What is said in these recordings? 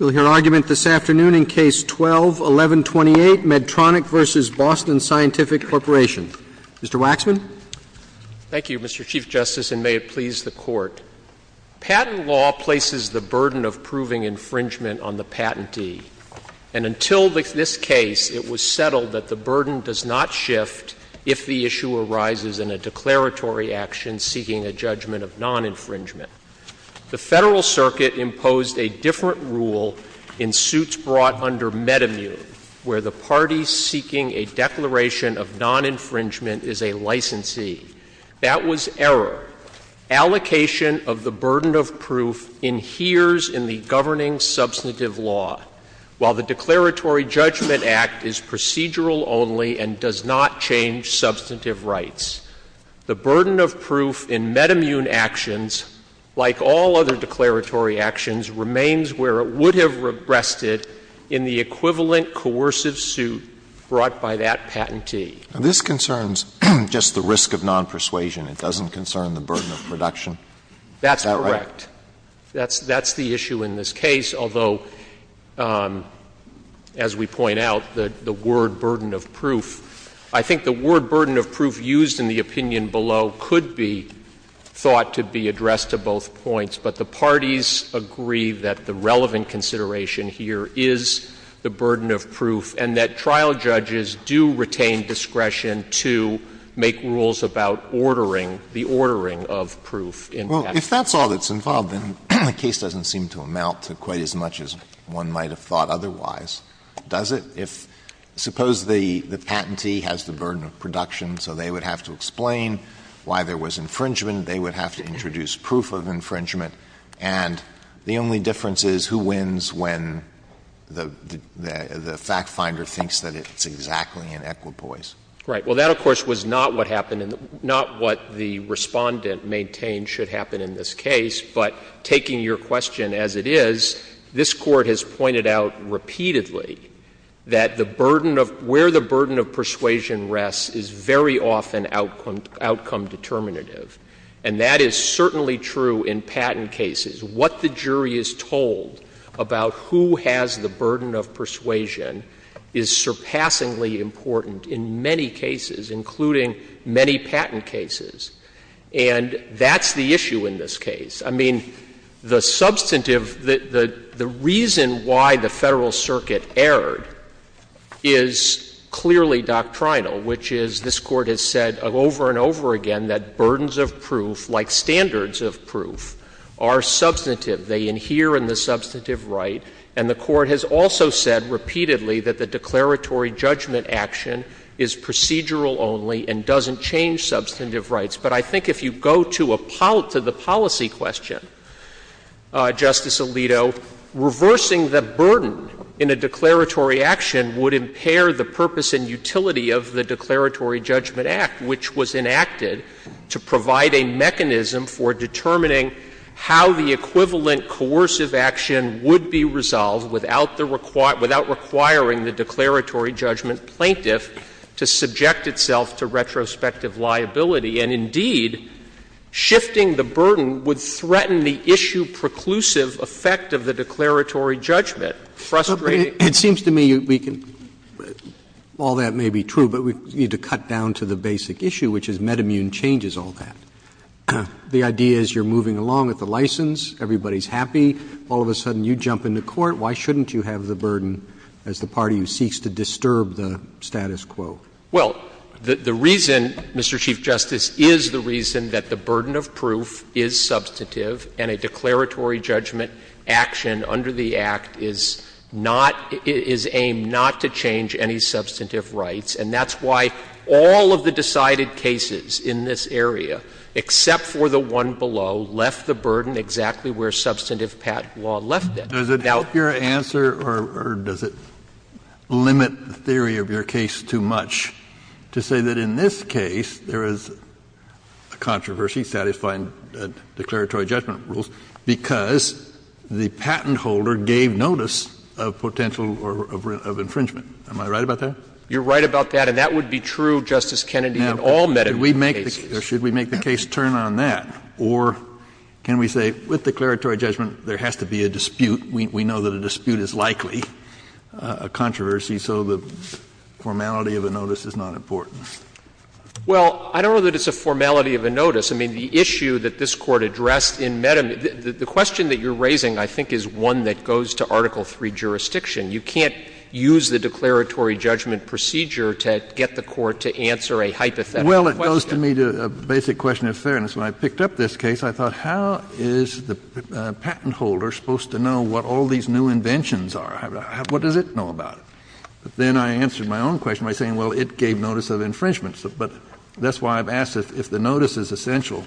Mr. Waxman. Thank you, Mr. Chief Justice, and may it please the Court. Patent law places the burden of proving infringement on the patentee. And until this case, it was settled that the burden does not shift if the issue arises in a declaratory action seeking a judgment of non-infringement. The Federal Circuit imposed a different rule in suits brought under MedImmune, where the party seeking a declaration of non-infringement is a licensee. That was error. Allocation of the burden of proof adheres in the governing substantive law, while the Declaratory Judgment Act is procedural only and does not change substantive rights. The burden of proof in MedImmune actions, like all other declaratory actions, remains where it would have rested in the equivalent coercive suit brought by that patentee. Now, this concerns just the risk of non-persuasion. It doesn't concern the burden of production. Is that right? That's correct. That's the issue in this case, although, as we point out, the word burden of proof I think the word burden of proof used in the opinion below could be thought to be addressed to both points. But the parties agree that the relevant consideration here is the burden of proof and that trial judges do retain discretion to make rules about ordering the ordering of proof. If that's all that's involved, then the case doesn't seem to amount to quite as much as one might have thought otherwise, does it? If suppose the patentee has the burden of production, so they would have to explain why there was infringement. They would have to introduce proof of infringement. And the only difference is who wins when the fact finder thinks that it's exactly an equipoise. Right. Well, that, of course, was not what happened in the — not what the Respondent maintained should happen in this case. But taking your question as it is, this Court has pointed out repeatedly that the burden of — where the burden of persuasion rests is very often outcome determinative. And that is certainly true in patent cases. What the jury is told about who has the burden of persuasion is surpassingly important in many cases, including many patent cases. And that's the issue in this case. I mean, the substantive — the reason why the Federal Circuit erred is clearly doctrinal, which is this Court has said over and over again that burdens of proof, like standards of proof, are substantive. They adhere in the substantive right. And the Court has also said repeatedly that the declaratory judgment action is procedural only and doesn't change substantive rights. But I think if you go to a — to the policy question, Justice Alito, reversing the burden in a declaratory action would impair the purpose and utility of the Declaratory Judgment Act, which was enacted to provide a mechanism for determining how the equivalent coercive action would be resolved without the — without requiring the declaratory judgment plaintiff to subject itself to retrospective liability. And indeed, shifting the burden would threaten the issue-preclusive effect of the declaratory Frustrating. Roberts. It seems to me we can — all that may be true, but we need to cut down to the basic issue, which is metamune changes all that. The idea is you're moving along with the license, everybody's happy. All of a sudden you jump into court. Why shouldn't you have the burden as the party who seeks to disturb the status quo? Well, the reason, Mr. Chief Justice, is the reason that the burden of proof is substantive and a declaratory judgment action under the Act is not — is aimed not to change any substantive rights. And that's why all of the decided cases in this area, except for the one below, left the burden exactly where substantive patent law left it. Does it help your answer or does it limit the theory of your case too much to say that in this case there is a controversy satisfying declaratory judgment rules because the patent holder gave notice of potential — of infringement? Am I right about that? You're right about that. And that would be true, Justice Kennedy, in all metamune cases. Now, should we make the case turn on that, or can we say with declaratory judgment there has to be a dispute, we know that a dispute is likely a controversy, so the formality of a notice is not important? Well, I don't know that it's a formality of a notice. I mean, the issue that this Court addressed in metamune, the question that you're raising, I think, is one that goes to Article III jurisdiction. You can't use the declaratory judgment procedure to get the Court to answer a hypothetical question. Well, it goes to me to a basic question of fairness. When I picked up this case, I thought, how is the patent holder supposed to know what all these new inventions are? What does it know about it? But then I answered my own question by saying, well, it gave notice of infringement. But that's why I've asked if the notice is essential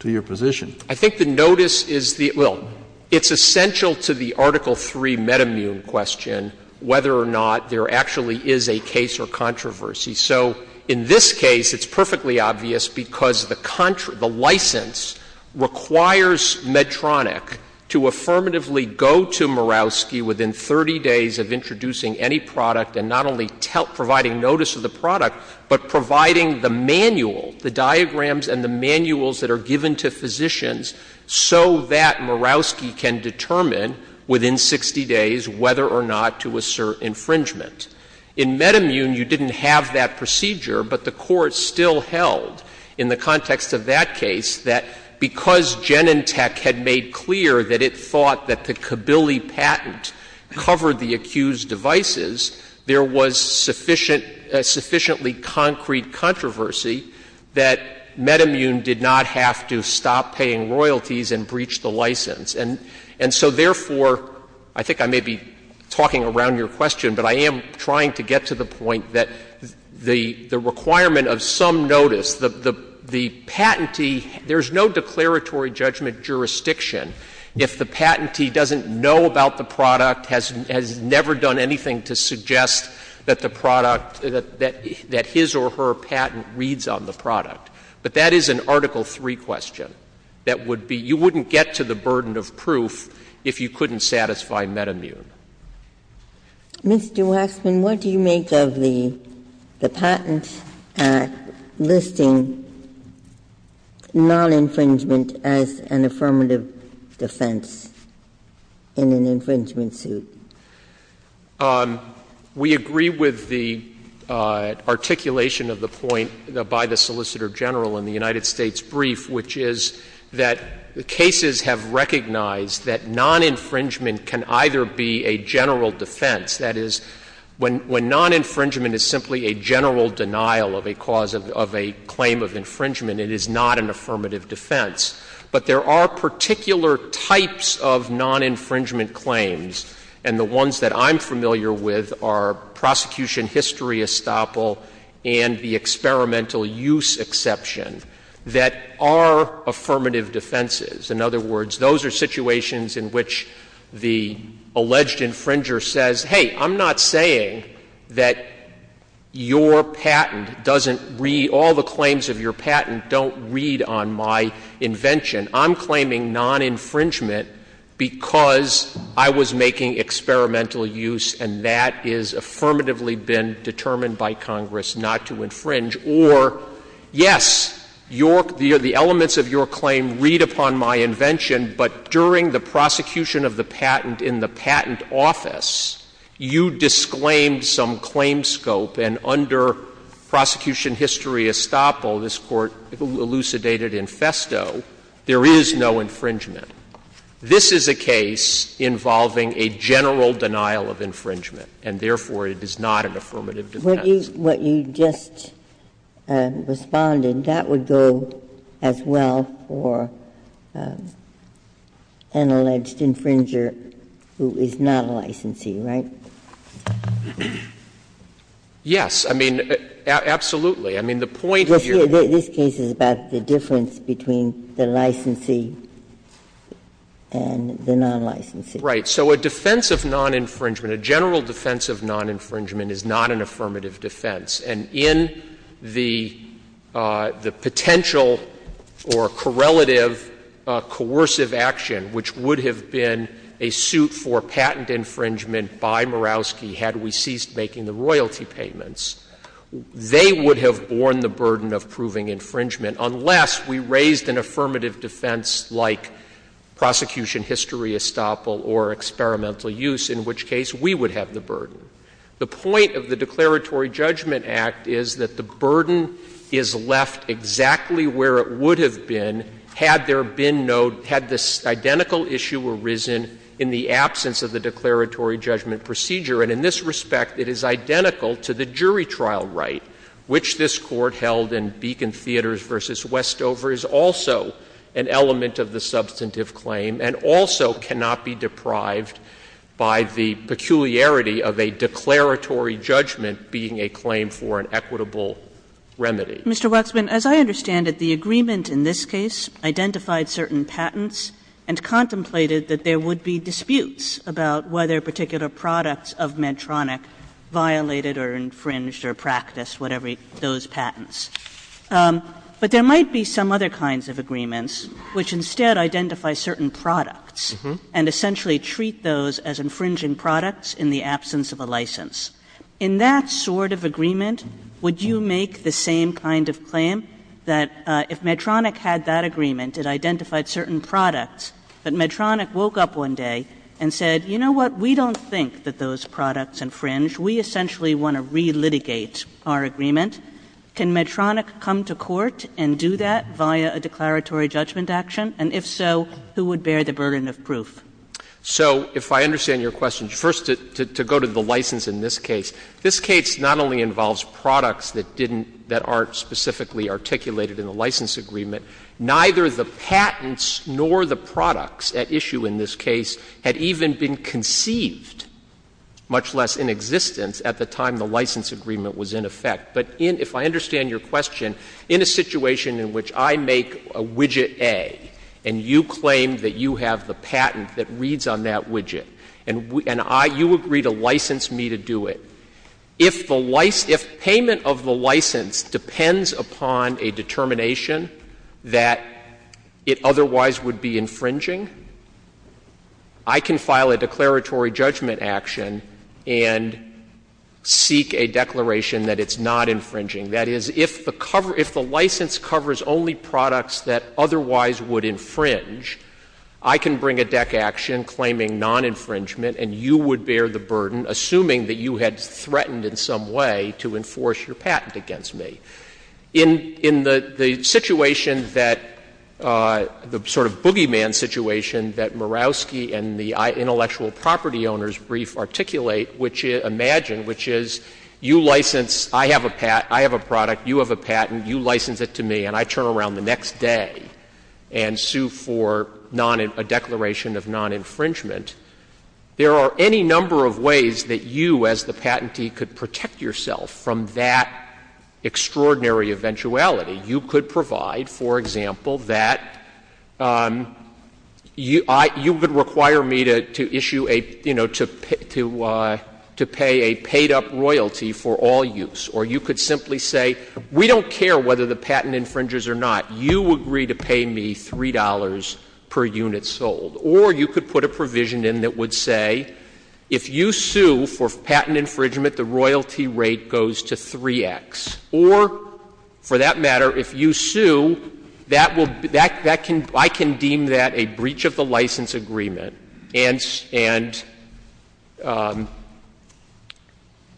to your position. I think the notice is the — well, it's essential to the Article III metamune question whether or not there actually is a case or controversy. So in this case, it's perfectly obvious because the license requires Medtronic to affirmatively go to Murawski within 30 days of introducing any product and not only providing notice of the product, but providing the manual, the diagrams and the manuals that are given to physicians so that Murawski can determine within 60 days whether or not to assert infringement. In Metamune, you didn't have that procedure, but the Court still held in the context of that case that because Genentech had made clear that it thought that the Kabili patent covered the accused devices, there was sufficient — sufficiently concrete controversy that Metamune did not have to stop paying royalties and breach the license. And so, therefore, I think I may be talking around your question, but I am trying to get to the point that the requirement of some notice, the patentee — there's no declaratory judgment jurisdiction if the patentee doesn't know about the product, has never done anything to suggest that the product — that his or her patent reads on the product. But that is an Article III question that would be — you wouldn't get to the burden of proof if you couldn't satisfy Metamune. Ginsburg. Mr. Waxman, what do you make of the Patent Act listing non-infringement as an affirmative defense in an infringement suit? We agree with the articulation of the point by the Solicitor General in the United States brief, which is that cases have recognized that non-infringement can either be a general defense. That is, when non-infringement is simply a general denial of a cause of a claim of infringement, it is not an affirmative defense. But there are particular types of non-infringement claims, and the ones that I'm familiar with are prosecution history estoppel and the experimental use exception, that are affirmative defenses. In other words, those are situations in which the alleged infringer says, hey, I'm not saying that your patent doesn't read — all the claims of your patent don't read on my invention. I'm claiming non-infringement because I was making experimental use, and that has affirmatively been determined by Congress not to infringe. Or, yes, your — the elements of your claim read upon my invention, but during the prosecution of the patent in the patent office, you disclaimed some claim scope. And under prosecution history estoppel, this Court elucidated in festo, there is no infringement. This is a case involving a general denial of infringement, and therefore, it is not an affirmative defense. Ginsburg. What you just responded, that would go as well for an alleged infringer who is not a licensee, right? Waxman. Waxman. Yes. I mean, absolutely. I mean, the point here — This case is about the difference between the licensee and the non-licensee. Right. So a defense of non-infringement, a general defense of non-infringement is not an affirmative defense. And in the potential or correlative coercive action, which would have been a suit for patent infringement by Murawski had we ceased making the royalty payments, they would have borne the burden of proving infringement unless we raised an affirmative defense like prosecution history estoppel or experimental use, in which case we would have the burden. The point of the Declaratory Judgment Act is that the burden is left exactly where it would have been had there been no — had this identical issue arisen in the absence of the declaratory judgment procedure. And in this respect, it is identical to the jury trial right, which this Court held in Beacon Theaters v. Westover, is also an element of the substantive claim and also cannot be deprived by the peculiarity of a declaratory judgment being a claim for an equitable remedy. Kagan. Yeah. Yes. Yes. Kagan. Yes. Yeah. Mr. Waxman, as I understand it, the agreement in this case identified certain patents and contemplated that there would be disputes about whether particular products of Medtronic violated or infringed or practiced whatever those patents. But there might be some other kinds of agreements which instead identify certain patents and contemplated that there might be some other kinds of claims that if Medtronic had that agreement, it identified certain products, but Medtronic woke up one day and said, you know what, we don't think that those products infringe. We essentially want to relitigate our agreement. Can Medtronic come to court and do that via a declaratory judgment action? And if so, who would bear the burden of proof? So if I understand your question, first to go to the license in this case, this case not only involves products that didn't — that aren't specifically articulated in the license agreement, neither the patents nor the products at issue in this case had even been conceived, much less in existence, at the time the license agreement was in effect. But in — if I understand your question, in a situation in which I make a widget A and you claim that you have the patent that reads on that widget, and I — you agree to license me to do it, if the license — if payment of the license depends upon a determination that it otherwise would be infringing, I can file a declaratory judgment action and seek a declaration that it's not infringing. That is, if the cover — if the license covers only products that otherwise would infringe, I can bring a deck action claiming non-infringement and you would bear the burden, assuming that you had threatened in some way to enforce your patent against me. In — in the situation that — the sort of boogeyman situation that Murawski and the intellectual property owners brief articulate, which — imagine, which is, you license — I have a patent — I have a product, you have a patent, you license it to me, and I turn around the next day and sue for non — a declaration of non-infringement. There are any number of ways that you, as the patentee, could protect yourself from that extraordinary eventuality. You could provide, for example, that you — you would require me to issue a — you know, to — to pay a paid-up royalty for all use. Or you could simply say, we don't care whether the patent infringes or not. You agree to pay me $3 per unit sold. Or you could put a provision in that would say, if you sue for patent infringement, the royalty rate goes to 3x. Or, for that matter, if you sue, that will — that can — I can deem that a breach of the license agreement and — and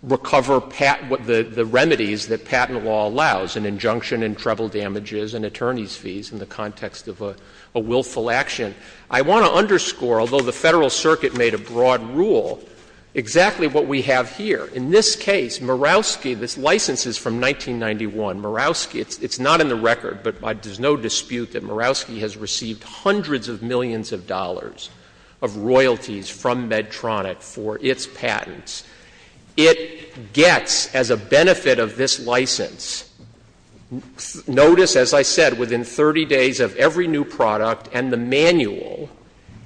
recover patent — the remedies that patent law allows, an injunction in treble damages and attorney's fees in the context of a — a willful action. I want to underscore, although the Federal Circuit made a broad rule, exactly what we have here. In this case, Murawski — this license is from 1991. Murawski — it's — it's not in the record, but there's no dispute that Murawski has received hundreds of millions of dollars of royalties from Medtronic for its patents. It gets, as a benefit of this license — notice, as I said, within 30 days of every new product and the manual,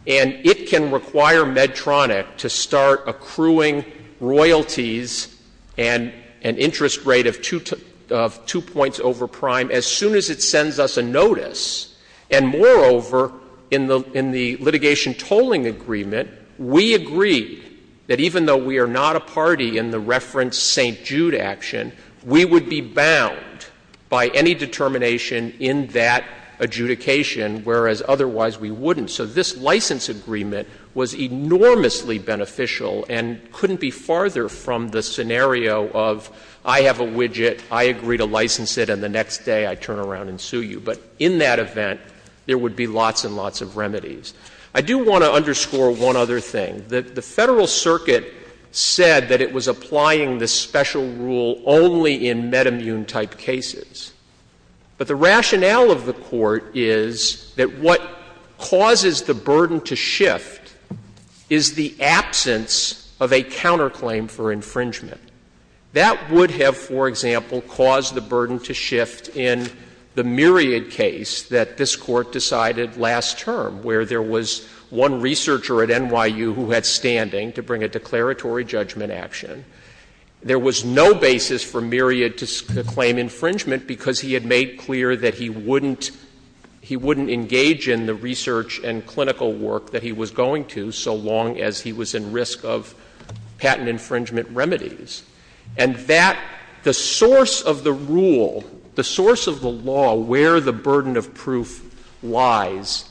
and it can require Medtronic to start accruing royalties and an interest rate of two — of two points over prime as soon as it sends us a notice. And, moreover, in the — in the litigation tolling agreement, we agreed that even though we are not a party in the reference St. Jude action, we would be bound by any determination in that adjudication, whereas otherwise we wouldn't. So this license agreement was enormously beneficial and couldn't be farther from the scenario of I have a widget, I agree to license it, and the next day I turn around and sue you. But in that event, there would be lots and lots of remedies. I do want to underscore one other thing. The — the Federal Circuit said that it was applying this special rule only in metamune-type cases. But the rationale of the Court is that what causes the burden to shift is the absence of a counterclaim for infringement. That would have, for example, caused the burden to shift in the Myriad case that this Court decided last term, where there was one researcher at NYU who had standing to bring a declaratory judgment action. There was no basis for Myriad to claim infringement because he had made clear that he wouldn't — he wouldn't engage in the research and clinical work that he was going to, so long as he was in risk of patent infringement remedies. And that — the source of the rule, the source of the law, where the burden of proof lies,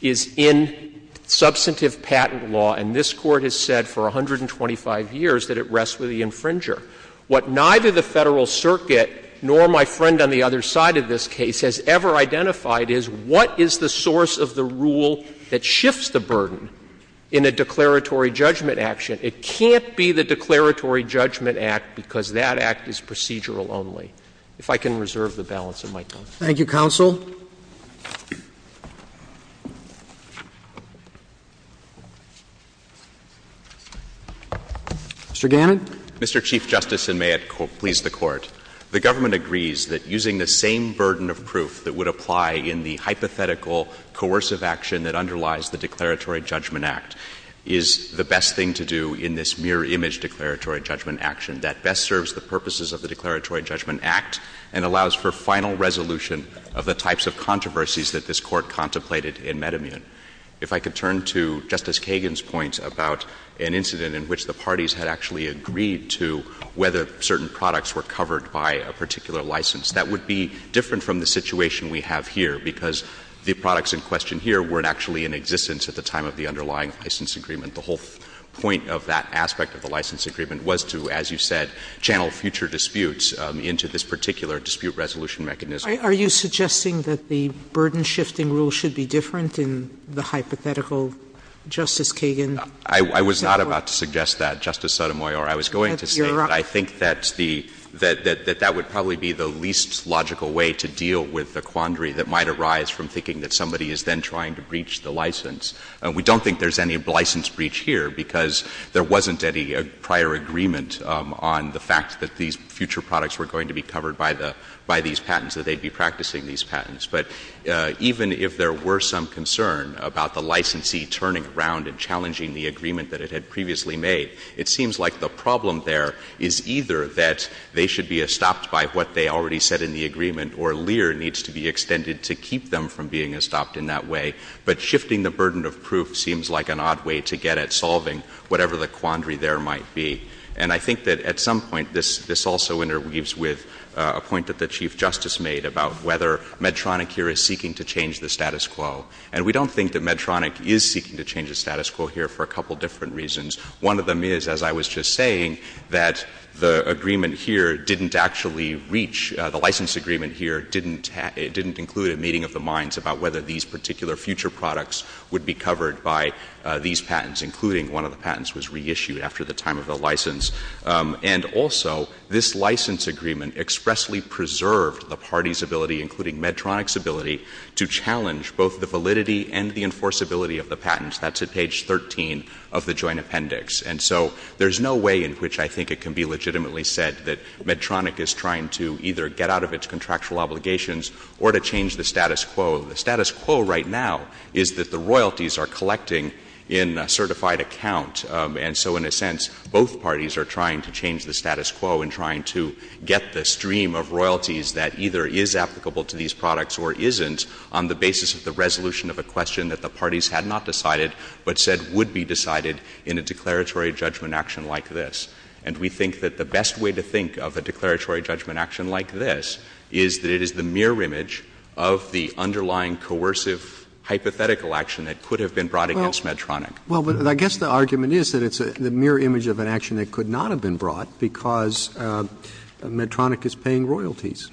is in substantive patent law. And this Court has said for 125 years that it rests with the infringer. What neither the Federal Circuit nor my friend on the other side of this case has ever identified is what is the source of the rule that shifts the burden in a declaratory judgment action. It can't be the declaratory judgment act because that act is procedural only. If I can reserve the balance of my time. Thank you, counsel. Mr. Gannon. Mr. Chief Justice, and may it please the Court, the government agrees that using the same burden of proof that would apply in the hypothetical coercive action that underlies the declaratory judgment act is the best thing to do in this mirror image declaratory judgment action. That best serves the purposes of the declaratory judgment act and allows for final resolution of the types of controversies that this Court contemplated in Medimun. If I could turn to Justice Kagan's point about an incident in which the parties had actually agreed to whether certain products were covered by a particular license. That would be different from the situation we have here because the products in question here weren't actually in existence at the time of the underlying license agreement. The whole point of that aspect of the license agreement was to, as you said, channel future disputes into this particular dispute resolution mechanism. Are you suggesting that the burden-shifting rule should be different in the hypothetical Justice Kagan example? I was not about to suggest that, Justice Sotomayor. I was going to say that I think that the — that that would probably be the least logical way to deal with the quandary that might arise from thinking that somebody is then trying to breach the license. We don't think there's any license breach here because there wasn't any prior agreement on the fact that these future products were going to be covered by the — by these patents, that they'd be practicing these patents. But even if there were some concern about the licensee turning around and challenging the agreement that it had previously made, it seems like the problem there is either that they should be estopped by what they already said in the agreement or LEAR needs to be extended to keep them from being estopped in that way. But shifting the burden of proof seems like an odd way to get at solving whatever the quandary there might be. And I think that at some point this — this also interweaves with a point that the Chief Justice made about whether Medtronic here is seeking to change the status quo. And we don't think that Medtronic is seeking to change the status quo here for a couple different reasons. One of them is, as I was just saying, that the agreement here didn't actually reach — the license agreement here didn't have — didn't include a meeting of the minds about whether these particular future products would be covered by these patents, including one of the patents was reissued after the time of the license. And also, this license agreement expressly preserved the party's ability, including Medtronic's ability, to challenge both the validity and the enforceability of the patents. That's at page 13 of the Joint Appendix. And so there's no way in which I think it can be legitimately said that Medtronic is trying to either get out of its contractual obligations or to change the status quo. The status quo right now is that the royalties are collecting in a certified account. And so, in a sense, both parties are trying to change the status quo in trying to get the stream of royalties that either is applicable to these products or isn't on the basis of the resolution of a question that the parties had not decided but said would be decided in a declaratory judgment action like this. And we think that the best way to think of a declaratory judgment action like this is that it is the mirror image of the underlying coercive hypothetical action that could have been brought against Medtronic. Roberts. Well, but I guess the argument is that it's the mirror image of an action that could not have been brought because Medtronic is paying royalties.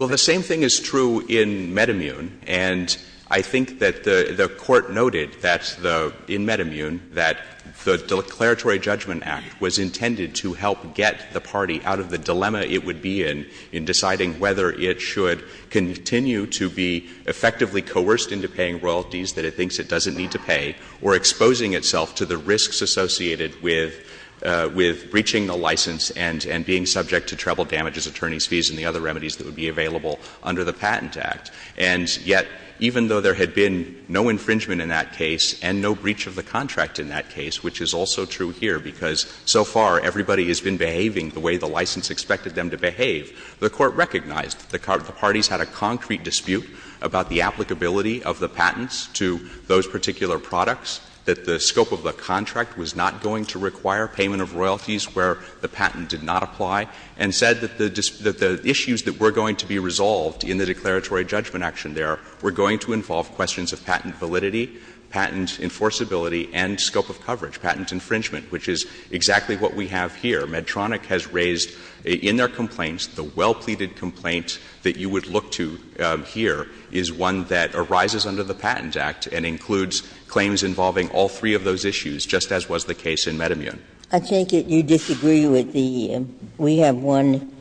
Well, the same thing is true in MedImmune. And I think that the Court noted that the — in MedImmune, that the Declaratory Judgment Act was intended to help get the party out of the dilemma it would be in in deciding whether it should continue to be effectively coerced into paying royalties that it thinks it doesn't need to pay or exposing itself to the risks associated with — with breaching the license and — and being subject to treble damages, attorney's fees and the other remedies that would be available under the Patent Act. And yet, even though there had been no infringement in that case and no breach of the contract in that case, which is also true here because so far everybody has been behaving the way the license expected them to behave, the Court recognized that the parties had a concrete dispute about the applicability of the patents to those particular products, that the scope of the contract was not going to require payment of royalties where the patent did not apply, and said that the — that the issues that were going to be resolved in the Declaratory Judgment Action there were going to involve questions of patent validity, patent enforceability, and scope of coverage, patent infringement, which is exactly what we have here. Medtronic has raised in their complaints the well-pleaded complaint that you would look to here is one that arises under the Patent Act and includes claims involving all three of those issues, just as was the case in MedImmune. I take it you disagree with the — we have one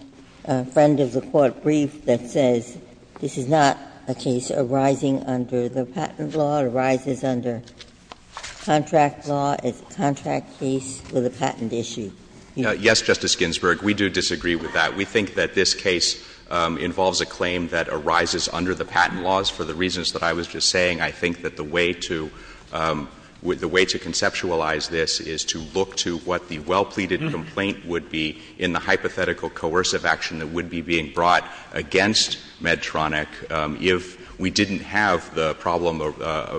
friend of the Court briefed that says this is not a case arising under the patent law, it arises under contract law, it's a contract case with a patent issue. Yes, Justice Ginsburg, we do disagree with that. We think that this case involves a claim that arises under the patent laws for the reasons that I was just saying. I think that the way to — the way to conceptualize this is to look to what the well-pleaded complaint would be in the hypothetical coercive action that would be being brought against Medtronic if we didn't have the problem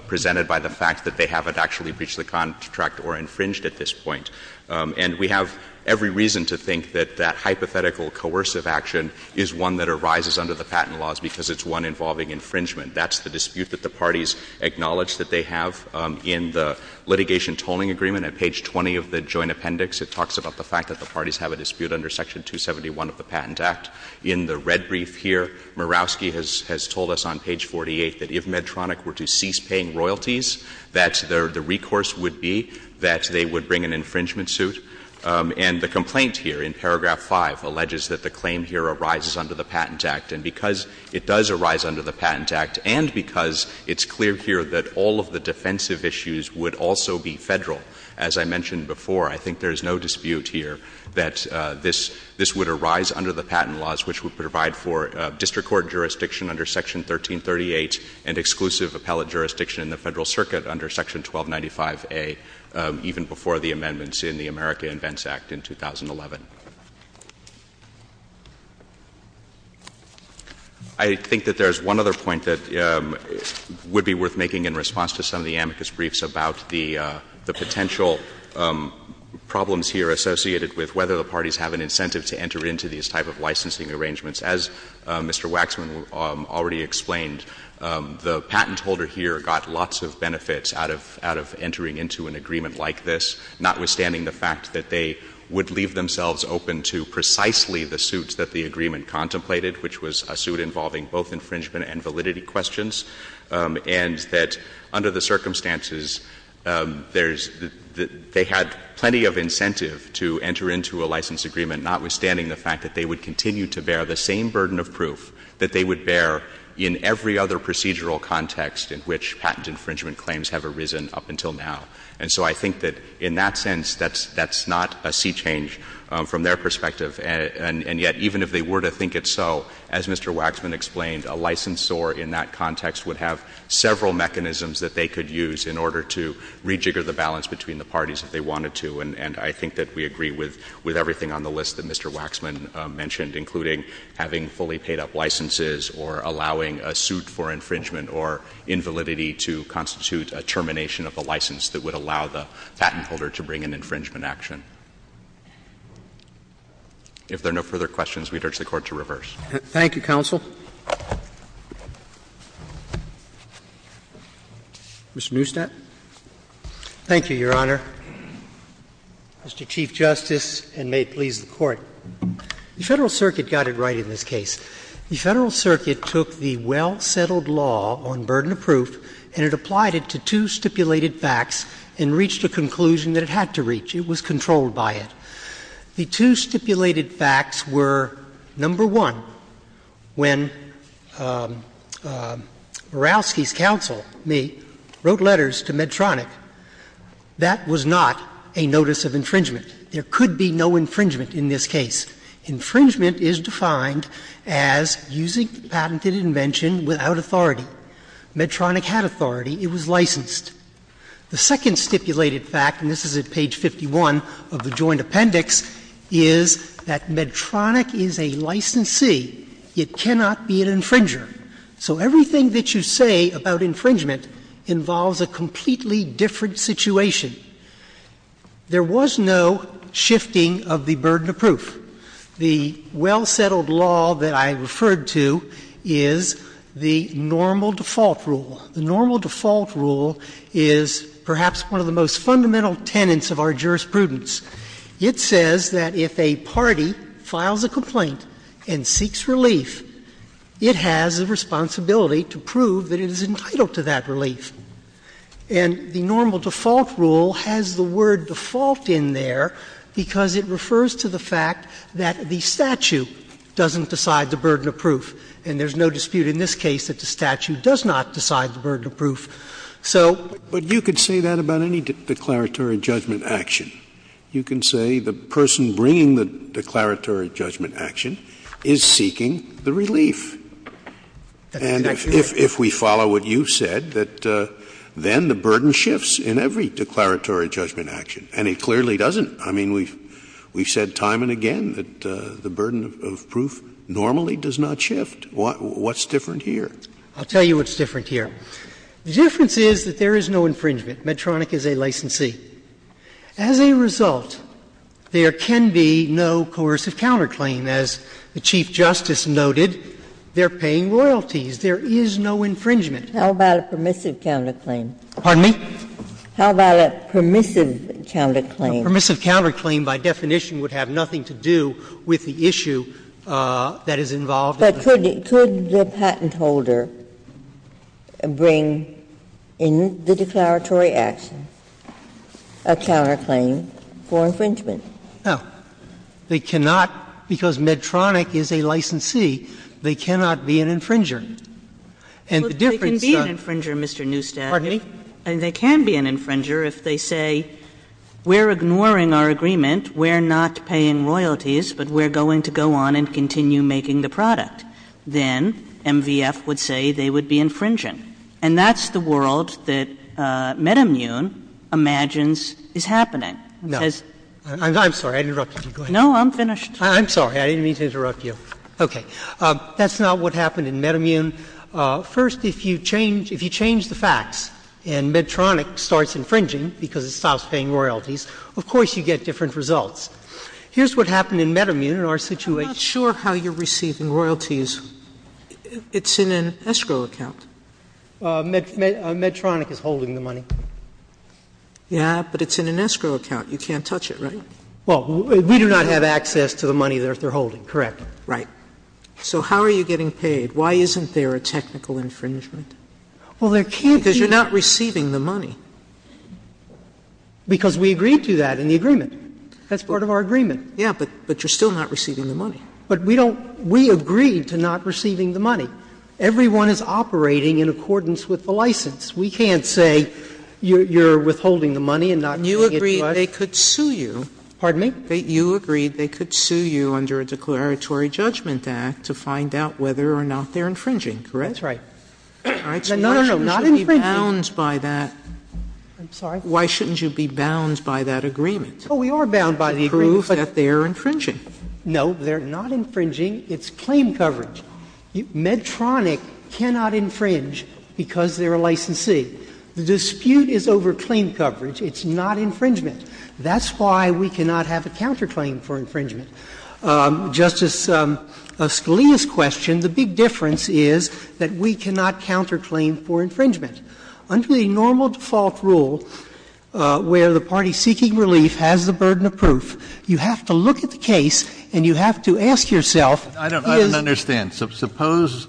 presented by the fact that they haven't actually breached the contract or infringed at this point. And we have every reason to think that that hypothetical coercive action is one that arises under the patent laws because it's one involving infringement. That's the dispute that the parties acknowledge that they have in the litigation tolling agreement. At page 20 of the joint appendix, it talks about the fact that the parties have a dispute under section 271 of the Patent Act. In the red brief here, Mirowski has told us on page 48 that if Medtronic were to cease paying royalties, that the recourse would be that they would bring an infringement suit. And the complaint here in paragraph 5 alleges that the claim here arises under the Patent Act. And because it does arise under the Patent Act and because it's clear here that all of the defensive issues would also be Federal, as I mentioned before, I think there is no dispute here that this would arise under the patent laws, which would provide for district court jurisdiction under section 1338 and exclusive appellate jurisdiction in the Federal Circuit under section 1295A, even before the amendments in the America Invents Act in 2011. I think that there is one other point that would be worth making in response to some of the amicus briefs about the potential problems here associated with whether the parties have an incentive to enter into these type of licensing arrangements. As Mr. Waxman already explained, the patent holder here got lots of benefits out of entering into an agreement like this, notwithstanding the fact that they would leave themselves open to precisely the suits that the agreement contemplated, which was a suit involving both infringement and validity questions, and that under the circumstances there's — they had plenty of incentive to enter into a license agreement, notwithstanding the fact that they would continue to bear the same burden of proof that they would bear in every other procedural context in which patent infringement claims have arisen up until now. And so I think that in that sense, that's — that's not a sea change from their perspective. And yet, even if they were to think it so, as Mr. Waxman explained, a licensor in that context would have several mechanisms that they could use in order to rejigger the balance between the parties if they wanted to. And I think that we agree with everything on the list that Mr. Waxman mentioned, including having fully paid-up licenses or allowing a suit for infringement or invalidity to constitute a termination of a license that would allow the patent holder to bring an infringement action. If there are no further questions, we'd urge the Court to reverse. Roberts. Thank you, counsel. Mr. Neustadt. Thank you, Your Honor. Mr. Chief Justice, and may it please the Court. The Federal Circuit got it right in this case. The Federal Circuit took the well-settled law on burden of proof and it applied it to two stipulated facts and reached a conclusion that it had to reach. It was controlled by it. The two stipulated facts were, number one, when Morawski's counsel, me, wrote letters to Medtronic, that was not a notice of infringement. There could be no infringement in this case. Infringement is defined as using the patented invention without authority. Medtronic had authority. It was licensed. The second stipulated fact, and this is at page 51 of the joint appendix, is that Medtronic is a licensee. It cannot be an infringer. So everything that you say about infringement involves a completely different situation. There was no shifting of the burden of proof. The well-settled law that I referred to is the normal default rule. The normal default rule is perhaps one of the most fundamental tenets of our jurisprudence. It says that if a party files a complaint and seeks relief, it has a responsibility to prove that it is entitled to that relief. And the normal default rule has the word default in there because it refers to the fact that the statute doesn't decide the burden of proof. And there's no dispute in this case that the statute does not decide the burden of proof. So you could say that about any declaratory judgment action. You can say the person bringing the declaratory judgment action is seeking the relief. And if we follow what you said, that then the burden shifts in every declaratory judgment action. And it clearly doesn't. I mean, we've said time and again that the burden of proof normally does not shift. What's different here? I'll tell you what's different here. The difference is that there is no infringement. Medtronic is a licensee. As a result, there can be no coercive counterclaim. As the Chief Justice noted, they're paying royalties. There is no infringement. How about a permissive counterclaim? Pardon me? How about a permissive counterclaim? A permissive counterclaim by definition would have nothing to do with the issue that is involved. But could the patent holder bring in the declaratory action a counterclaim for infringement? No. They cannot, because Medtronic is a licensee, they cannot be an infringer. And the difference is that they can be an infringer, Mr. Neustadt. Pardon me? And they can be an infringer if they say, we're ignoring our agreement, we're not paying royalties, but we're going to go on and continue making the product. Then MVF would say they would be infringing. And that's the world that MedImmune imagines is happening. It says — No. I'm sorry. I interrupted you. Go ahead. No, I'm finished. I'm sorry. I didn't mean to interrupt you. Okay. That's not what happened in MedImmune. First, if you change the facts and Medtronic starts infringing because it stops paying royalties, of course you get different results. Here's what happened in MedImmune in our situation. I'm not sure how you're receiving royalties. It's in an escrow account. Medtronic is holding the money. Yeah, but it's in an escrow account. You can't touch it, right? Well, we do not have access to the money that they're holding, correct? Right. So how are you getting paid? Why isn't there a technical infringement? Well, there can't be. Because you're not receiving the money. Because we agreed to that in the agreement. That's part of our agreement. Yeah, but you're still not receiving the money. But we don't — we agreed to not receiving the money. Everyone is operating in accordance with the license. We can't say you're withholding the money and not paying it to us. You agreed they could sue you. Pardon me? You agreed they could sue you under a declaratory judgment act to find out whether or not they're infringing, correct? That's right. No, no, no. Not infringing. Why shouldn't you be bound by that? I'm sorry? Why shouldn't you be bound by that agreement? Oh, we are bound by the agreement. To prove that they're infringing. No, they're not infringing. It's claim coverage. Medtronic cannot infringe because they're a licensee. The dispute is over claim coverage. It's not infringement. That's why we cannot have a counterclaim for infringement. Justice Scalia's question, the big difference is that we cannot counterclaim for infringement. Under the normal default rule where the party seeking relief has the burden of proof, you have to look at the case and you have to ask yourself is — I don't understand. Suppose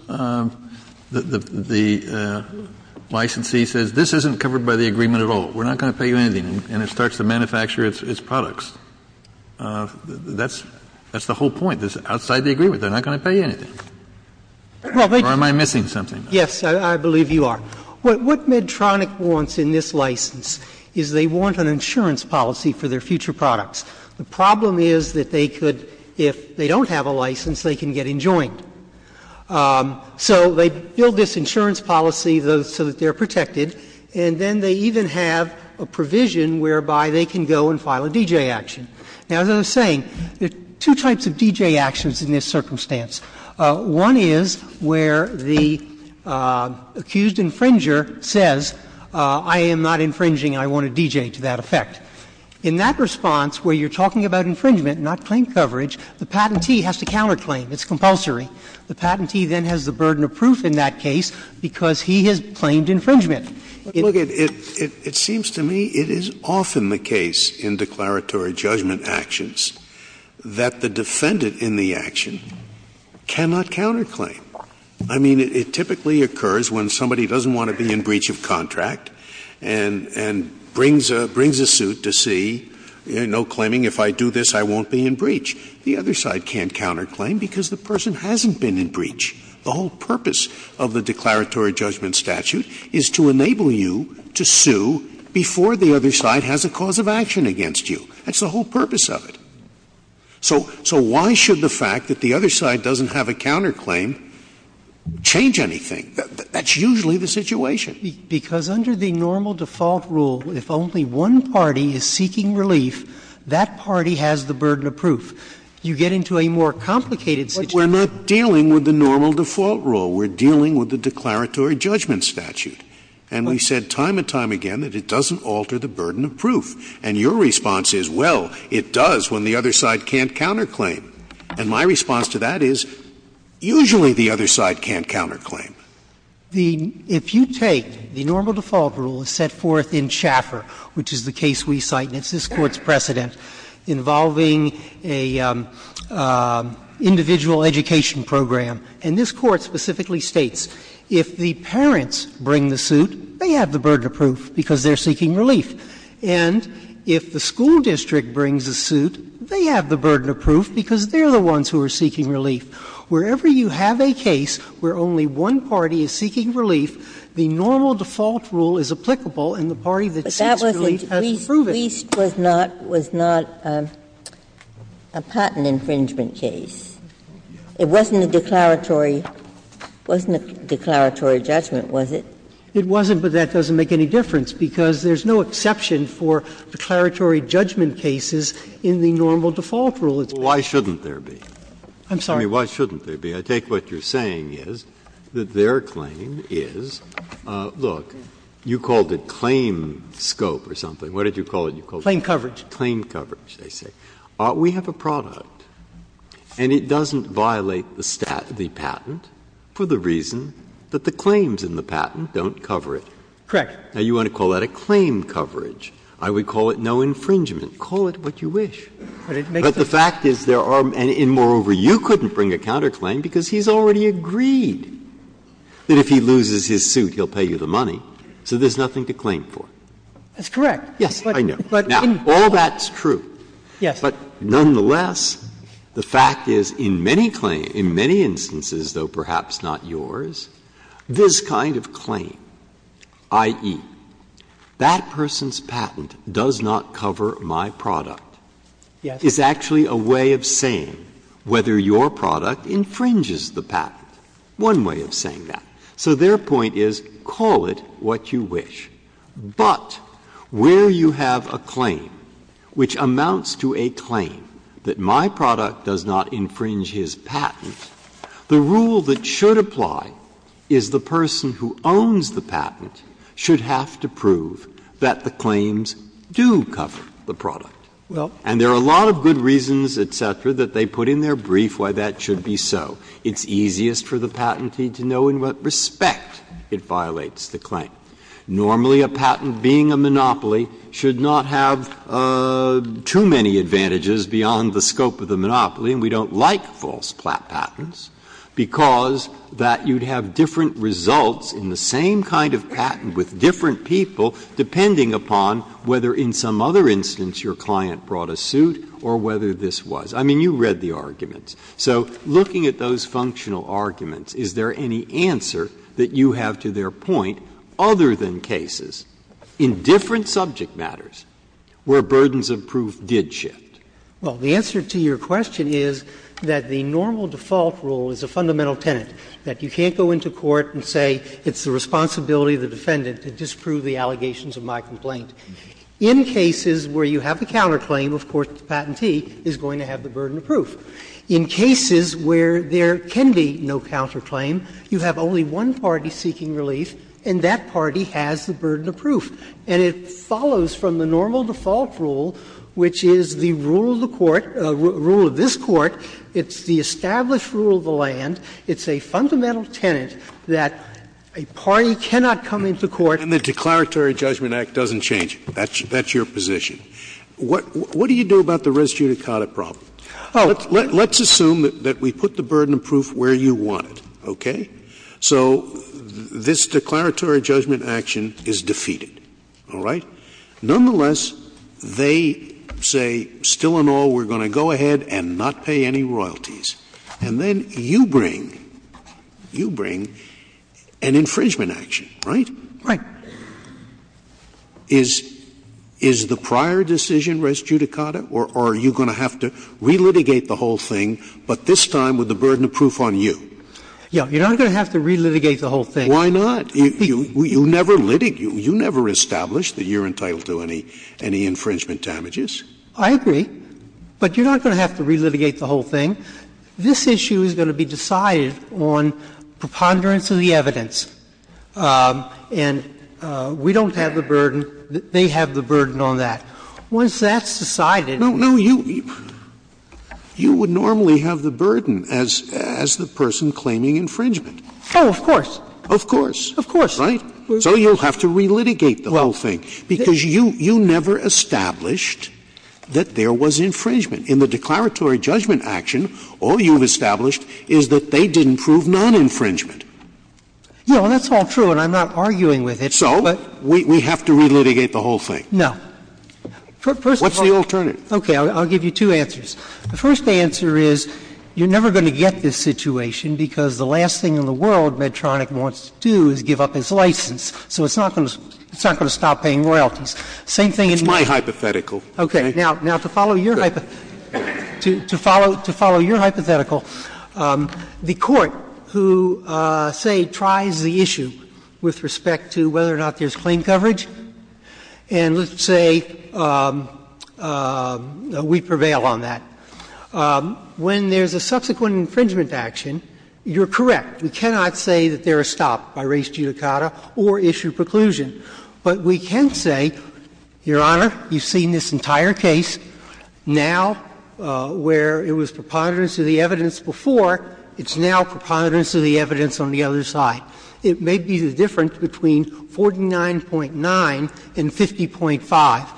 the licensee says this isn't covered by the agreement at all. We're not going to pay you anything. And it starts to manufacture its products. That's the whole point. It's outside the agreement. They're not going to pay you anything. Or am I missing something? Yes. I believe you are. What Medtronic wants in this license is they want an insurance policy for their future products. The problem is that they could, if they don't have a license, they can get enjoined. So they build this insurance policy so that they're protected, and then they even have a provision whereby they can go and file a D.J. action. Now, as I was saying, there are two types of D.J. actions in this circumstance. One is where the accused infringer says I am not infringing, I want a D.J. to that effect. In that response where you're talking about infringement, not claim coverage, the patentee has to counterclaim. It's compulsory. The patentee then has the burden of proof in that case because he has claimed infringement. But look, it seems to me it is often the case in declaratory judgment actions that the defendant in the action cannot counterclaim. I mean, it typically occurs when somebody doesn't want to be in breach of contract and brings a suit to see, you know, claiming if I do this I won't be in breach. The other side can't counterclaim because the person hasn't been in breach. The whole purpose of the declaratory judgment statute is to enable you to sue before the other side has a cause of action against you. That's the whole purpose of it. So why should the fact that the other side doesn't have a counterclaim change anything? That's usually the situation. Because under the normal default rule, if only one party is seeking relief, that party has the burden of proof. You get into a more complicated situation. We're not dealing with the normal default rule. We're dealing with the declaratory judgment statute. And we said time and time again that it doesn't alter the burden of proof. And your response is, well, it does when the other side can't counterclaim. And my response to that is, usually the other side can't counterclaim. If you take the normal default rule set forth in Schaffer, which is the case we cite and it's this Court's precedent involving an individual education program, and this Court specifically states, if the parents bring the suit, they have the burden of proof because they're seeking relief. And if the school district brings the suit, they have the burden of proof because they're the ones who are seeking relief. Wherever you have a case where only one party is seeking relief, the normal default rule is applicable and the party that seeks relief has to prove it. Ginsburg's case was not a patent infringement case. It wasn't a declaratory judgment, was it? It wasn't, but that doesn't make any difference because there's no exception for declaratory judgment cases in the normal default rule. Why shouldn't there be? I'm sorry? I mean, why shouldn't there be? I take what you're saying is that their claim is, look, you called it claim scope or something. What did you call it you called it? Claim coverage. Claim coverage, they say. We have a product and it doesn't violate the patent for the reason that the claims in the patent don't cover it. Correct. Now, you want to call that a claim coverage. I would call it no infringement. Call it what you wish. But the fact is there are, and moreover, you couldn't bring a counterclaim because he's already agreed that if he loses his suit, he'll pay you the money. So there's nothing to claim for. That's correct. Yes, I know. Now, all that's true. Yes. But nonetheless, the fact is in many claims, in many instances, though perhaps not yours, this kind of claim, i.e., that person's patent does not cover my product, is actually a way of saying whether your product infringes the patent. One way of saying that. So their point is call it what you wish. But where you have a claim which amounts to a claim that my product does not infringe his patent, the rule that should apply is the person who owns the patent should have to prove that the claims do cover the product. And there are a lot of good reasons, et cetera, that they put in their brief why that should be so. It's easiest for the patentee to know in what respect it violates the claim. Normally, a patent being a monopoly should not have too many advantages beyond the scope of the monopoly, and we don't like false patents, because that you'd have different results in the same kind of patent with different people depending upon whether in some other instance your client brought a suit or whether this was. I mean, you read the arguments. So, looking at those functional arguments, is there any answer that you have to their point other than cases in different subject matters where burdens of proof did shift? Well, the answer to your question is that the normal default rule is a fundamental tenet, that you can't go into court and say it's the responsibility of the defendant to disprove the allegations of my complaint. In cases where you have a counterclaim, of course, the patentee is going to have the burden of proof. In cases where there can be no counterclaim, you have only one party seeking relief and that party has the burden of proof. And it follows from the normal default rule, which is the rule of the court, rule of this Court, it's the established rule of the land, it's a fundamental tenet that a party cannot come into court. And the Declaratory Judgment Act doesn't change it. That's your position. What do you do about the res judicata problem? Let's assume that we put the burden of proof where you want it, okay? So this Declaratory Judgment Act is defeated, all right? Nonetheless, they say, still and all, we're going to go ahead and not pay any royalties. And then you bring, you bring an infringement action, right? Right. Is the prior decision res judicata or are you going to have to reaffirm that? You're not going to have to reaffirm that. You're not going to have to re-litigate the whole thing, but this time with the burden of proof on you. Yeah. You're not going to have to re-litigate the whole thing. Why not? You never litigate. You never establish that you're entitled to any infringement damages. I agree. But you're not going to have to re-litigate the whole thing. This issue is going to be decided on preponderance of the evidence. And we don't have the burden. They have the burden on that. Once that's decided and we have the burden on that, we're going to have to re-litigate the whole thing. No, no, you, you would normally have the burden as, as the person claiming infringement. Oh, of course. Of course. Of course. Right? So you'll have to re-litigate the whole thing. Because you, you never established that there was infringement. In the Declaratory Judgment Action, all you've established is that they didn't prove non-infringement. No, and that's all true, and I'm not arguing with it, but we have to re-litigate the whole thing. No. First of all, okay, I'll give you two answers. The first answer is you're never going to get this situation because the last thing in the world Medtronic wants to do is give up his license. So it's not going to, it's not going to stop paying royalties. Same thing in me. It's my hypothetical. Okay. Now, to follow your hypothetical, the Court who, say, tries the issue with respect to whether or not there's claim coverage, and let's say we prevail on that, when there's a subsequent infringement action, you're correct. We cannot say that they're stopped by res judicata or issue preclusion. But we can say, Your Honor, you've seen this entire case. Now, where it was preponderance of the evidence before, it's now preponderance of the evidence on the other side. It may be the difference between 49.9 and 50.5.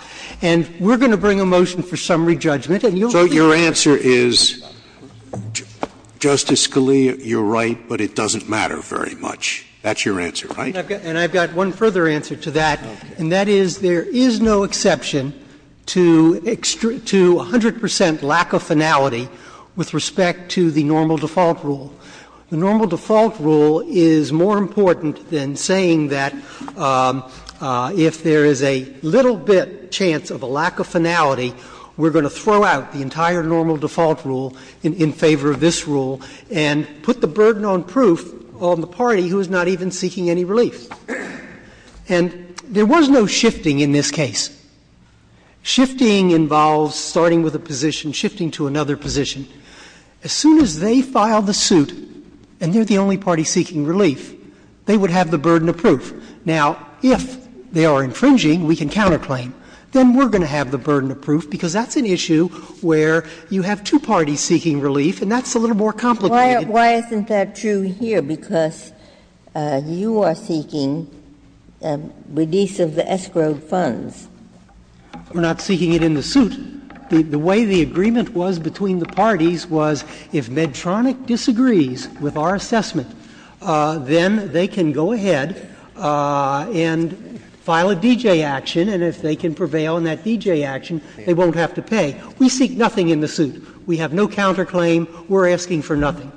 And we're going to bring a motion for summary judgment, and you'll hear from me. Scalia, you're right, but it doesn't matter very much. That's your answer, right? And I've got one further answer to that, and that is there is no exception to 100 percent lack of finality with respect to the normal default rule. The normal default rule is more important than saying that if there is a little bit chance of a lack of finality, we're going to throw out the entire normal default rule in favor of this rule and put the burden on proof on the party who is not even seeking any relief. And there was no shifting in this case. Shifting involves starting with a position, shifting to another position. As soon as they file the suit and they're the only party seeking relief, they would have the burden of proof. Now, if they are infringing, we can counterclaim. Then we're going to have the burden of proof, because that's an issue where you have two parties seeking relief, and that's a little more complicated. Why isn't that true here, because you are seeking release of the escrowed funds? We're not seeking it in the suit. The way the agreement was between the parties was, if Medtronic disagrees with our assessment, then they can go ahead and file a D.J. action, and if they can prevail on that D.J. action, they won't have to pay. We seek nothing in the suit. We have no counterclaim. We're asking for nothing.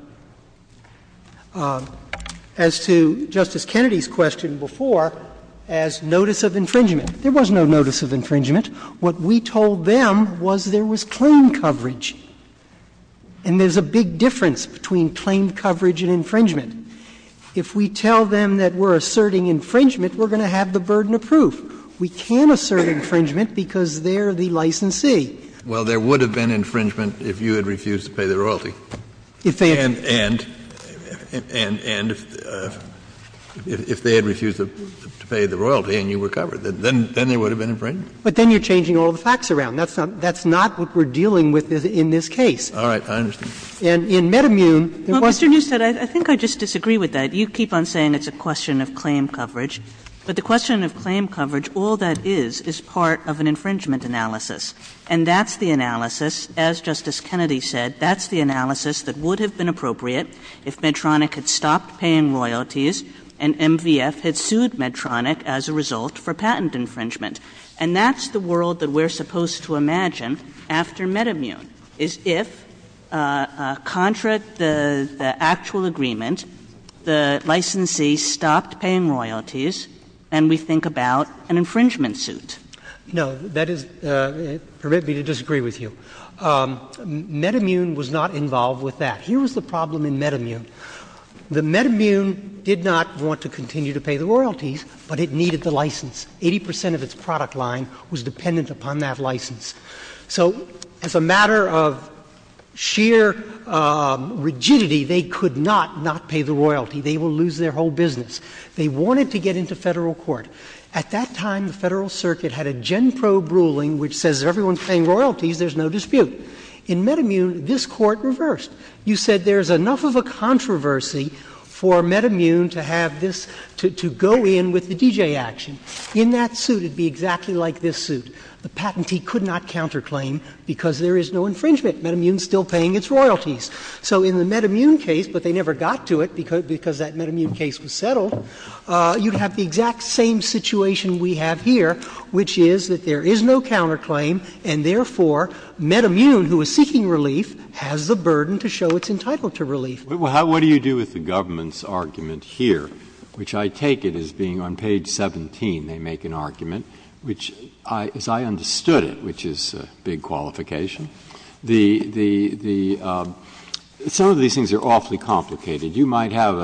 As to Justice Kennedy's question before, as notice of infringement, there was no notice of infringement. What we told them was there was claim coverage, and there's a big difference between claim coverage and infringement. If we tell them that we're asserting infringement, we're going to have the burden of proof. We can assert infringement because they're the licensee. Kennedy, well, there would have been infringement if you had refused to pay the royalty. And if they had refused to pay the royalty and you were covered, then there would have been infringement. But then you're changing all the facts around. That's not what we're dealing with in this case. All right. I understand. And in MedImmune, there was not. Well, Mr. Newstead, I think I just disagree with that. You keep on saying it's a question of claim coverage, but the question of claim coverage, all that is, is part of an infringement analysis. And that's the analysis, as Justice Kennedy said, that's the analysis that would have been appropriate if Medtronic had stopped paying royalties and MVF had sued Medtronic as a result for patent infringement. And that's the world that we're supposed to imagine after MedImmune, is if, contra the actual agreement, the licensee stopped paying royalties, and we think about an infringement suit. No, that is, permit me to disagree with you. MedImmune was not involved with that. Here was the problem in MedImmune. The MedImmune did not want to continue to pay the royalties, but it needed the license. Eighty percent of its product line was dependent upon that license. So, as a matter of sheer rigidity, they could not not pay the royalty. They will lose their whole business. They wanted to get into federal court. At that time, the Federal Circuit had a GenProbe ruling which says if everyone's paying royalties, there's no dispute. In MedImmune, this court reversed. You said there's enough of a controversy for MedImmune to have this, to go in with the DJ action. In that suit, it would be exactly like this suit. The patentee could not counterclaim because there is no infringement. MedImmune's still paying its royalties. So, in the MedImmune case, but they never got to it because that MedImmune case was settled, you'd have the exact same situation we have here, which is that there is no counterclaim and, therefore, MedImmune, who is seeking relief, has the burden to show it's entitled to relief. Breyer. What do you do with the government's argument here, which I take it as being on page 17 they make an argument, which, as I understood it, which is a big qualification, the the the some of these things are awfully complicated. You might have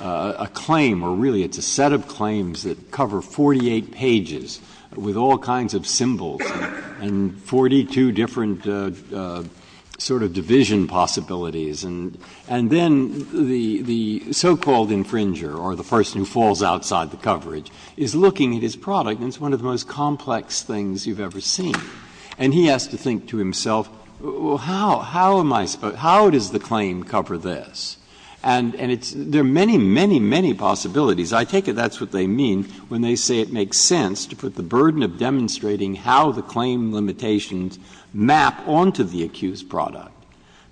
a claim, or really it's a set of claims that cover 48 pages with all kinds of symbols and 42 different sort of division possibilities. And then the so-called infringer, or the person who falls outside the coverage, is looking at his product, and it's one of the most complex things you've ever seen. And he has to think to himself, well, how, how am I supposed to, how does the claim cover this? And, and it's, there are many, many, many possibilities. I take it that's what they mean when they say it makes sense to put the burden of demonstrating how the claim limitations map onto the accused product,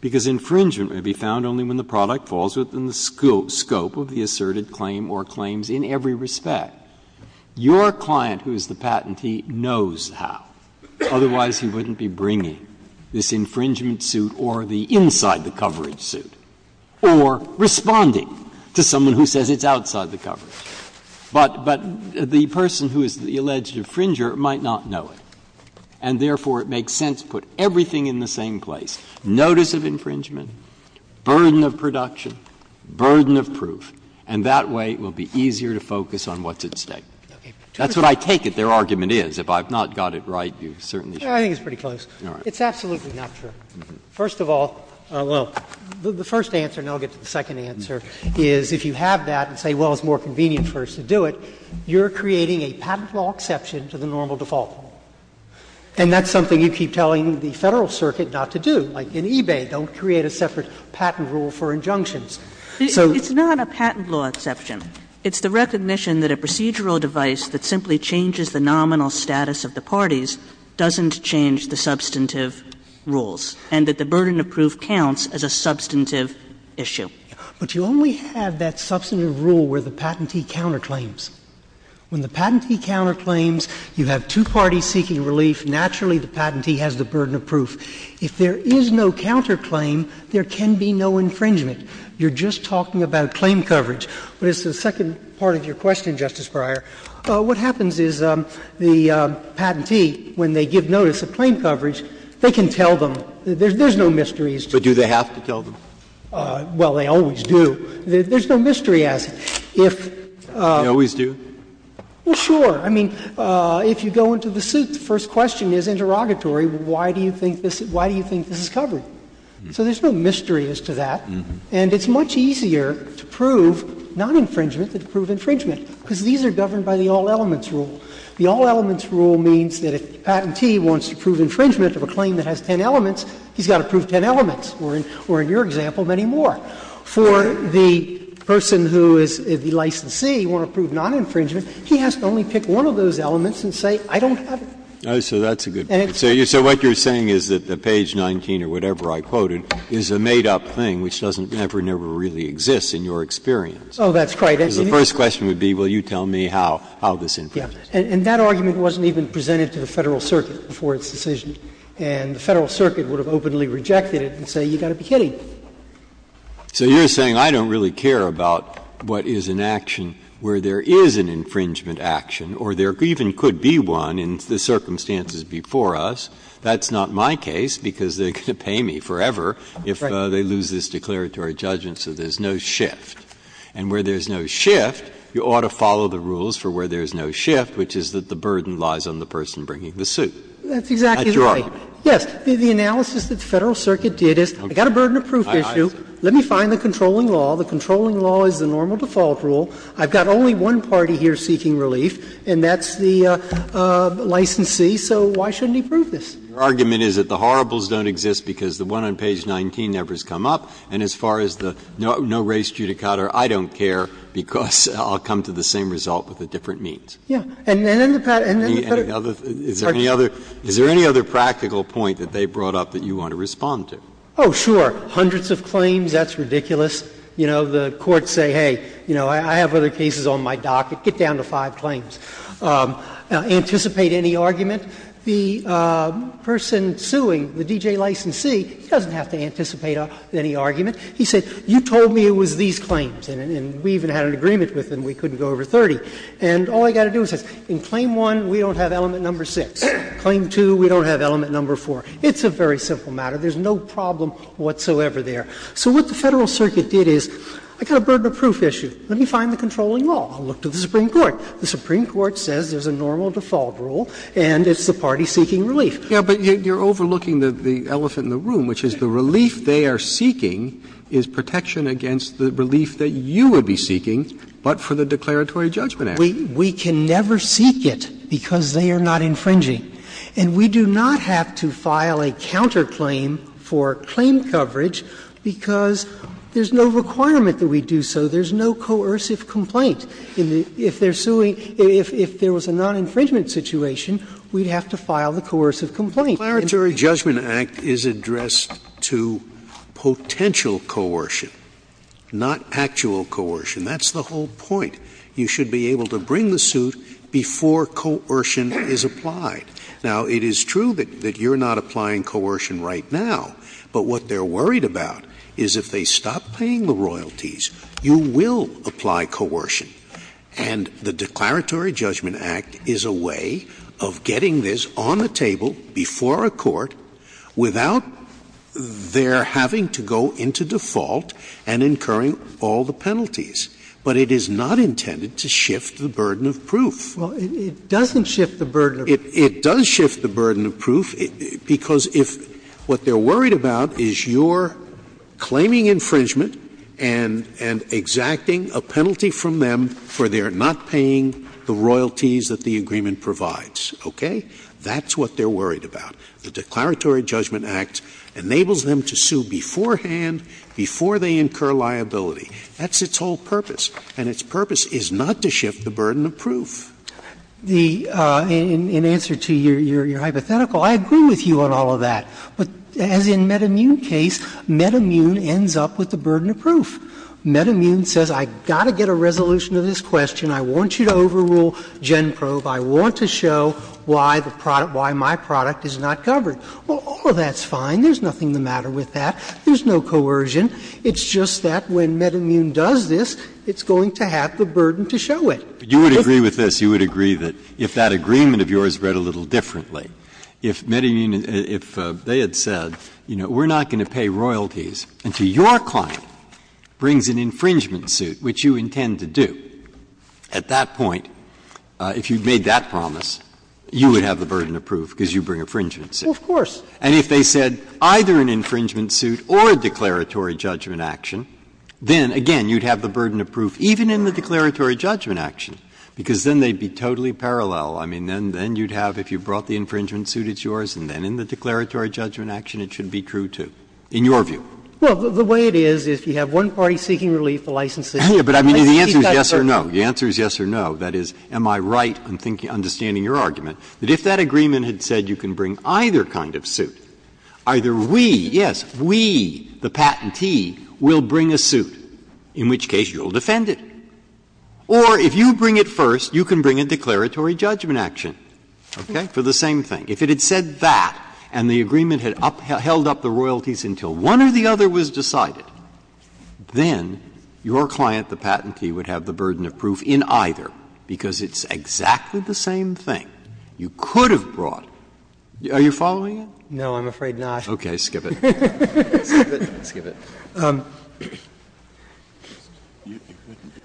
because infringement may be found only when the product falls within the scope of the asserted claim or claims in every respect. Your client, who is the patentee, knows how. Otherwise, he wouldn't be bringing this infringement suit or the inside the coverage suit or responding to someone who says it's outside the coverage. But, but the person who is the alleged infringer might not know it. And therefore, it makes sense to put everything in the same place, notice of infringement, burden of production, burden of proof, and that way it will be easier to focus on what's at stake. That's what I take it their argument is. If I've not got it right, you certainly should. I think it's pretty close. It's absolutely not true. First of all, well, the first answer, and I'll get to the second answer, is if you have that and say, well, it's more convenient for us to do it, you're creating a patent law exception to the normal default law. And that's something you keep telling the Federal Circuit not to do. Like in eBay, don't create a separate patent rule for injunctions. So it's not a patent law exception. It's the recognition that a procedural device that simply changes the nominal status of the parties doesn't change the substantive rules, and that the burden of proof counts as a substantive issue. But you only have that substantive rule where the patentee counterclaims. When the patentee counterclaims, you have two parties seeking relief. Naturally, the patentee has the burden of proof. If there is no counterclaim, there can be no infringement. You're just talking about claim coverage. But as to the second part of your question, Justice Breyer, what happens is the patentee, when they give notice of claim coverage, they can tell them. There's no mystery as to that. But do they have to tell them? Well, they always do. There's no mystery as to that. They always do? Well, sure. I mean, if you go into the suit, the first question is interrogatory. Why do you think this is covered? So there's no mystery as to that. And it's much easier to prove non-infringement than to prove infringement, because these are governed by the all-elements rule. The all-elements rule means that if the patentee wants to prove infringement of a claim that has ten elements, he's got to prove ten elements, or in your example, many more. For the person who is the licensee, you want to prove non-infringement, he has to only pick one of those elements and say, I don't have it. So that's a good point. So what you're saying is that the page 19 or whatever I quoted is a made-up thing which doesn't ever, never really exist in your experience. Oh, that's quite right. The first question would be, will you tell me how this infringes? And that argument wasn't even presented to the Federal Circuit before its decision. And the Federal Circuit would have openly rejected it and say, you've got to be kidding. So you're saying I don't really care about what is an action where there is an infringement action or there even could be one in the circumstances before us. That's not my case, because they're going to pay me forever if they lose this declaratory judgment, so there's no shift. And where there's no shift, you ought to follow the rules for where there's no shift, which is that the burden lies on the person bringing the suit. That's your argument. That's exactly right. Yes. The analysis that the Federal Circuit did is, I've got a burden of proof issue, let me find the controlling law. The controlling law is the normal default rule. I've got only one party here seeking relief, and that's the licensee, so why shouldn't he prove this? Your argument is that the horribles don't exist because the one on page 19 never has come up, and as far as the no race judicata, I don't care, because I'll come to the same result with a different means. Yeah. And then the Federal Circuit, it's hard to say. Is there any other practical point that they brought up that you want to respond to? Oh, sure. Hundreds of claims, that's ridiculous. You know, the courts say, hey, you know, I have other cases on my docket, get down to five claims. Anticipate any argument. The person suing, the DJ licensee, he doesn't have to anticipate any argument. He said, you told me it was these claims, and we even had an agreement with them, we couldn't go over 30. And all I've got to do is say, in claim 1, we don't have element number 6. Claim 2, we don't have element number 4. It's a very simple matter. There's no problem whatsoever there. So what the Federal Circuit did is, I've got a burden of proof issue, let me find the controlling law. I'll look to the Supreme Court. The Supreme Court says there's a normal default rule, and it's the party seeking relief. Yeah, but you're overlooking the elephant in the room, which is the relief they are seeking is protection against the relief that you would be seeking, but for the Declaratory Judgment Act. We can never seek it because they are not infringing. And we do not have to file a counterclaim for claim coverage because there's no requirement that we do so. There's no coercive complaint. If they are suing, if there was a non-infringement situation, we'd have to file the coercive complaint. Scalia. Scalia. The Declaratory Judgment Act is addressed to potential coercion, not actual coercion. That's the whole point. You should be able to bring the suit before coercion is applied. Now, it is true that you are not applying coercion right now, but what they are worried about is if they stop paying the royalties, you will apply coercion. And the Declaratory Judgment Act is a way of getting this on the table before a court without their having to go into default and incurring all the penalties. But it is not intended to shift the burden of proof. Well, it doesn't shift the burden of proof. It does shift the burden of proof, because if what they are worried about is your claiming infringement and exacting a penalty from them for their not paying the royalties that the agreement provides, okay, that's what they are worried about. The Declaratory Judgment Act enables them to sue beforehand, before they incur liability. That's its whole purpose, and its purpose is not to shift the burden of proof. The — in answer to your hypothetical, I agree with you on all of that. But as in MedImmune's case, MedImmune ends up with the burden of proof. MedImmune says, I've got to get a resolution to this question, I want you to overrule GenProbe, I want to show why the product — why my product is not covered. Well, all of that's fine, there's nothing the matter with that, there's no coercion. It's just that when MedImmune does this, it's going to have the burden to show it. Breyer. You would agree with this, you would agree that if that agreement of yours read a little differently, if MedImmune, if they had said, you know, we're not going to pay royalties until your client brings an infringement suit, which you intend to do, at that point, if you had made that promise, you would have the burden of proof, because you bring infringement suit. Well, of course. And if they said either an infringement suit or a declaratory judgment action, then, again, you would have the burden of proof even in the declaratory judgment action, because then they'd be totally parallel. I mean, then you'd have, if you brought the infringement suit, it's yours, and then in the declaratory judgment action, it should be true, too, in your view. Well, the way it is, if you have one party seeking relief, the licensee, you might seek that burden. But I mean, the answer is yes or no, the answer is yes or no. That is, am I right, I'm thinking, understanding your argument, that if that agreement had said you can bring either kind of suit, either we, yes, we, the patentee, will bring a suit, in which case you'll defend it. Or if you bring it first, you can bring a declaratory judgment action, okay, for the same thing. If it had said that, and the agreement had upheld up the royalties until one or the other was decided, then your client, the patentee, would have the burden of proof in either, because it's exactly the same thing. You could have brought – are you following me? No, I'm afraid not. Okay, skip it.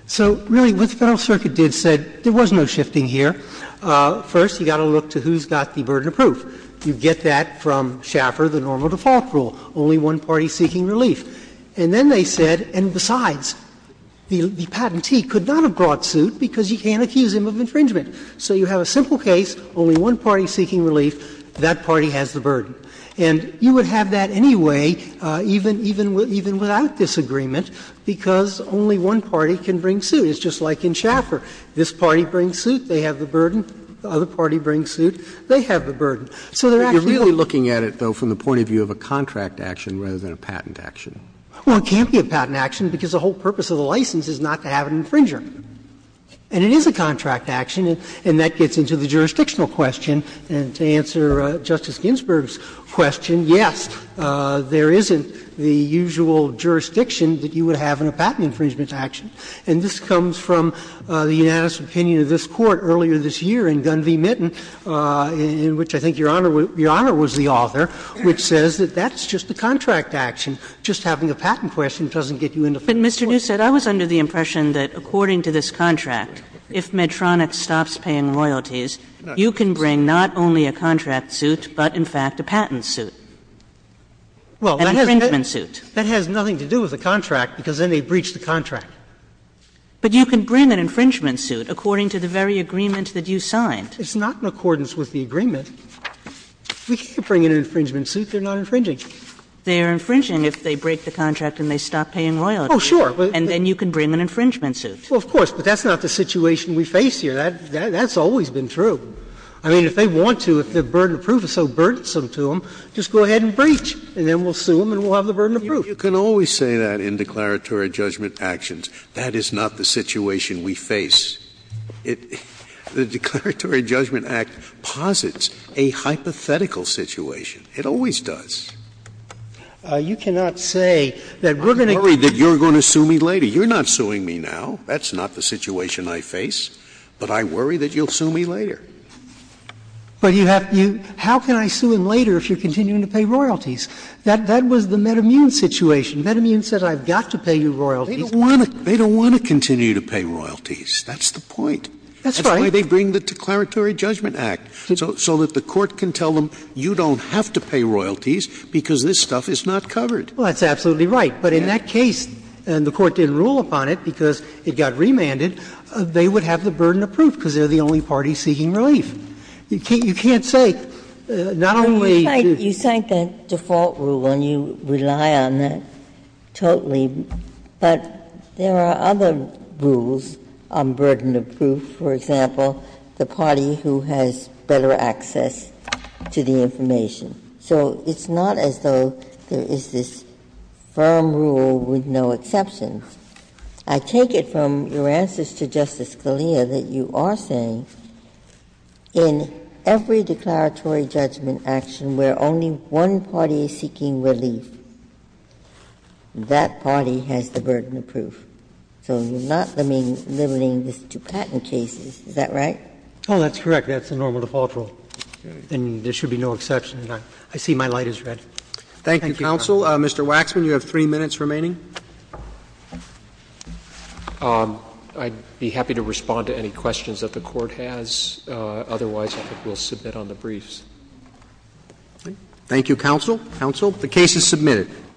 So, really, what the Federal Circuit did, said there was no shifting here. First, you've got to look to who's got the burden of proof. You get that from Schaffer, the normal default rule, only one party seeking relief. And then they said, and besides, the patentee could not have brought suit because you can't accuse him of infringement. So you have a simple case, only one party seeking relief, that party has the burden. And anyway, even without this agreement, because only one party can bring suit. It's just like in Schaffer. This party brings suit, they have the burden. The other party brings suit, they have the burden. So they're actually the same. Roberts. But you're really looking at it, though, from the point of view of a contract action rather than a patent action. Well, it can't be a patent action, because the whole purpose of the license is not to have an infringer. And it is a contract action, and that gets into the jurisdictional question. And to answer Justice Ginsburg's question, yes, there isn't the usual jurisdiction that you would have in a patent infringement action. And this comes from the unanimous opinion of this Court earlier this year in Gun v. Mitten, in which I think Your Honor was the author, which says that that's just a contract action. Just having a patent question doesn't get you into full court. But, Mr. Neustadt, I was under the impression that according to this contract, if Medtronic stops paying royalties, you can bring not only a contract suit, but in fact a patent suit, an infringement suit. Well, that has nothing to do with the contract, because then they breach the contract. But you can bring an infringement suit according to the very agreement that you signed. It's not in accordance with the agreement. If we can't bring an infringement suit, they're not infringing. They are infringing if they break the contract and they stop paying royalties. Oh, sure. And then you can bring an infringement suit. Well, of course. But that's not the situation we face here. That's always been true. I mean, if they want to, if the burden of proof is so burdensome to them, just go ahead and breach, and then we'll sue them and we'll have the burden of proof. You can always say that in declaratory judgment actions. That is not the situation we face. The Declaratory Judgment Act posits a hypothetical situation. It always does. You cannot say that we're going to get a patent suit. I'm worried that you're going to sue me later. You're not suing me now. That's not the situation I face. But I worry that you'll sue me later. But you have to do — how can I sue him later if you're continuing to pay royalties? That was the MedImmune situation. MedImmune said, I've got to pay you royalties. They don't want to continue to pay royalties. That's the point. That's right. That's why they bring the Declaratory Judgment Act, so that the Court can tell them you don't have to pay royalties because this stuff is not covered. Well, that's absolutely right. But in that case, and the Court didn't rule upon it because it got remanded, they would have the burden of proof because they're the only party seeking relief. You can't say, not only do you — But you cite the default rule, and you rely on that totally. But there are other rules on burden of proof. For example, the party who has better access to the information. So it's not as though there is this firm rule with no exceptions. I take it from your answers to Justice Scalia that you are saying in every declaratory judgment action where only one party is seeking relief, that party has the burden of proof. So you're not limiting this to patent cases. Is that right? Oh, that's correct. That's the normal default rule. And there should be no exception. I see my light is red. Thank you, counsel. Mr. Waxman, you have three minutes remaining. I'd be happy to respond to any questions that the Court has. Otherwise, I think we'll submit on the briefs. Thank you, counsel. Counsel, the case is submitted.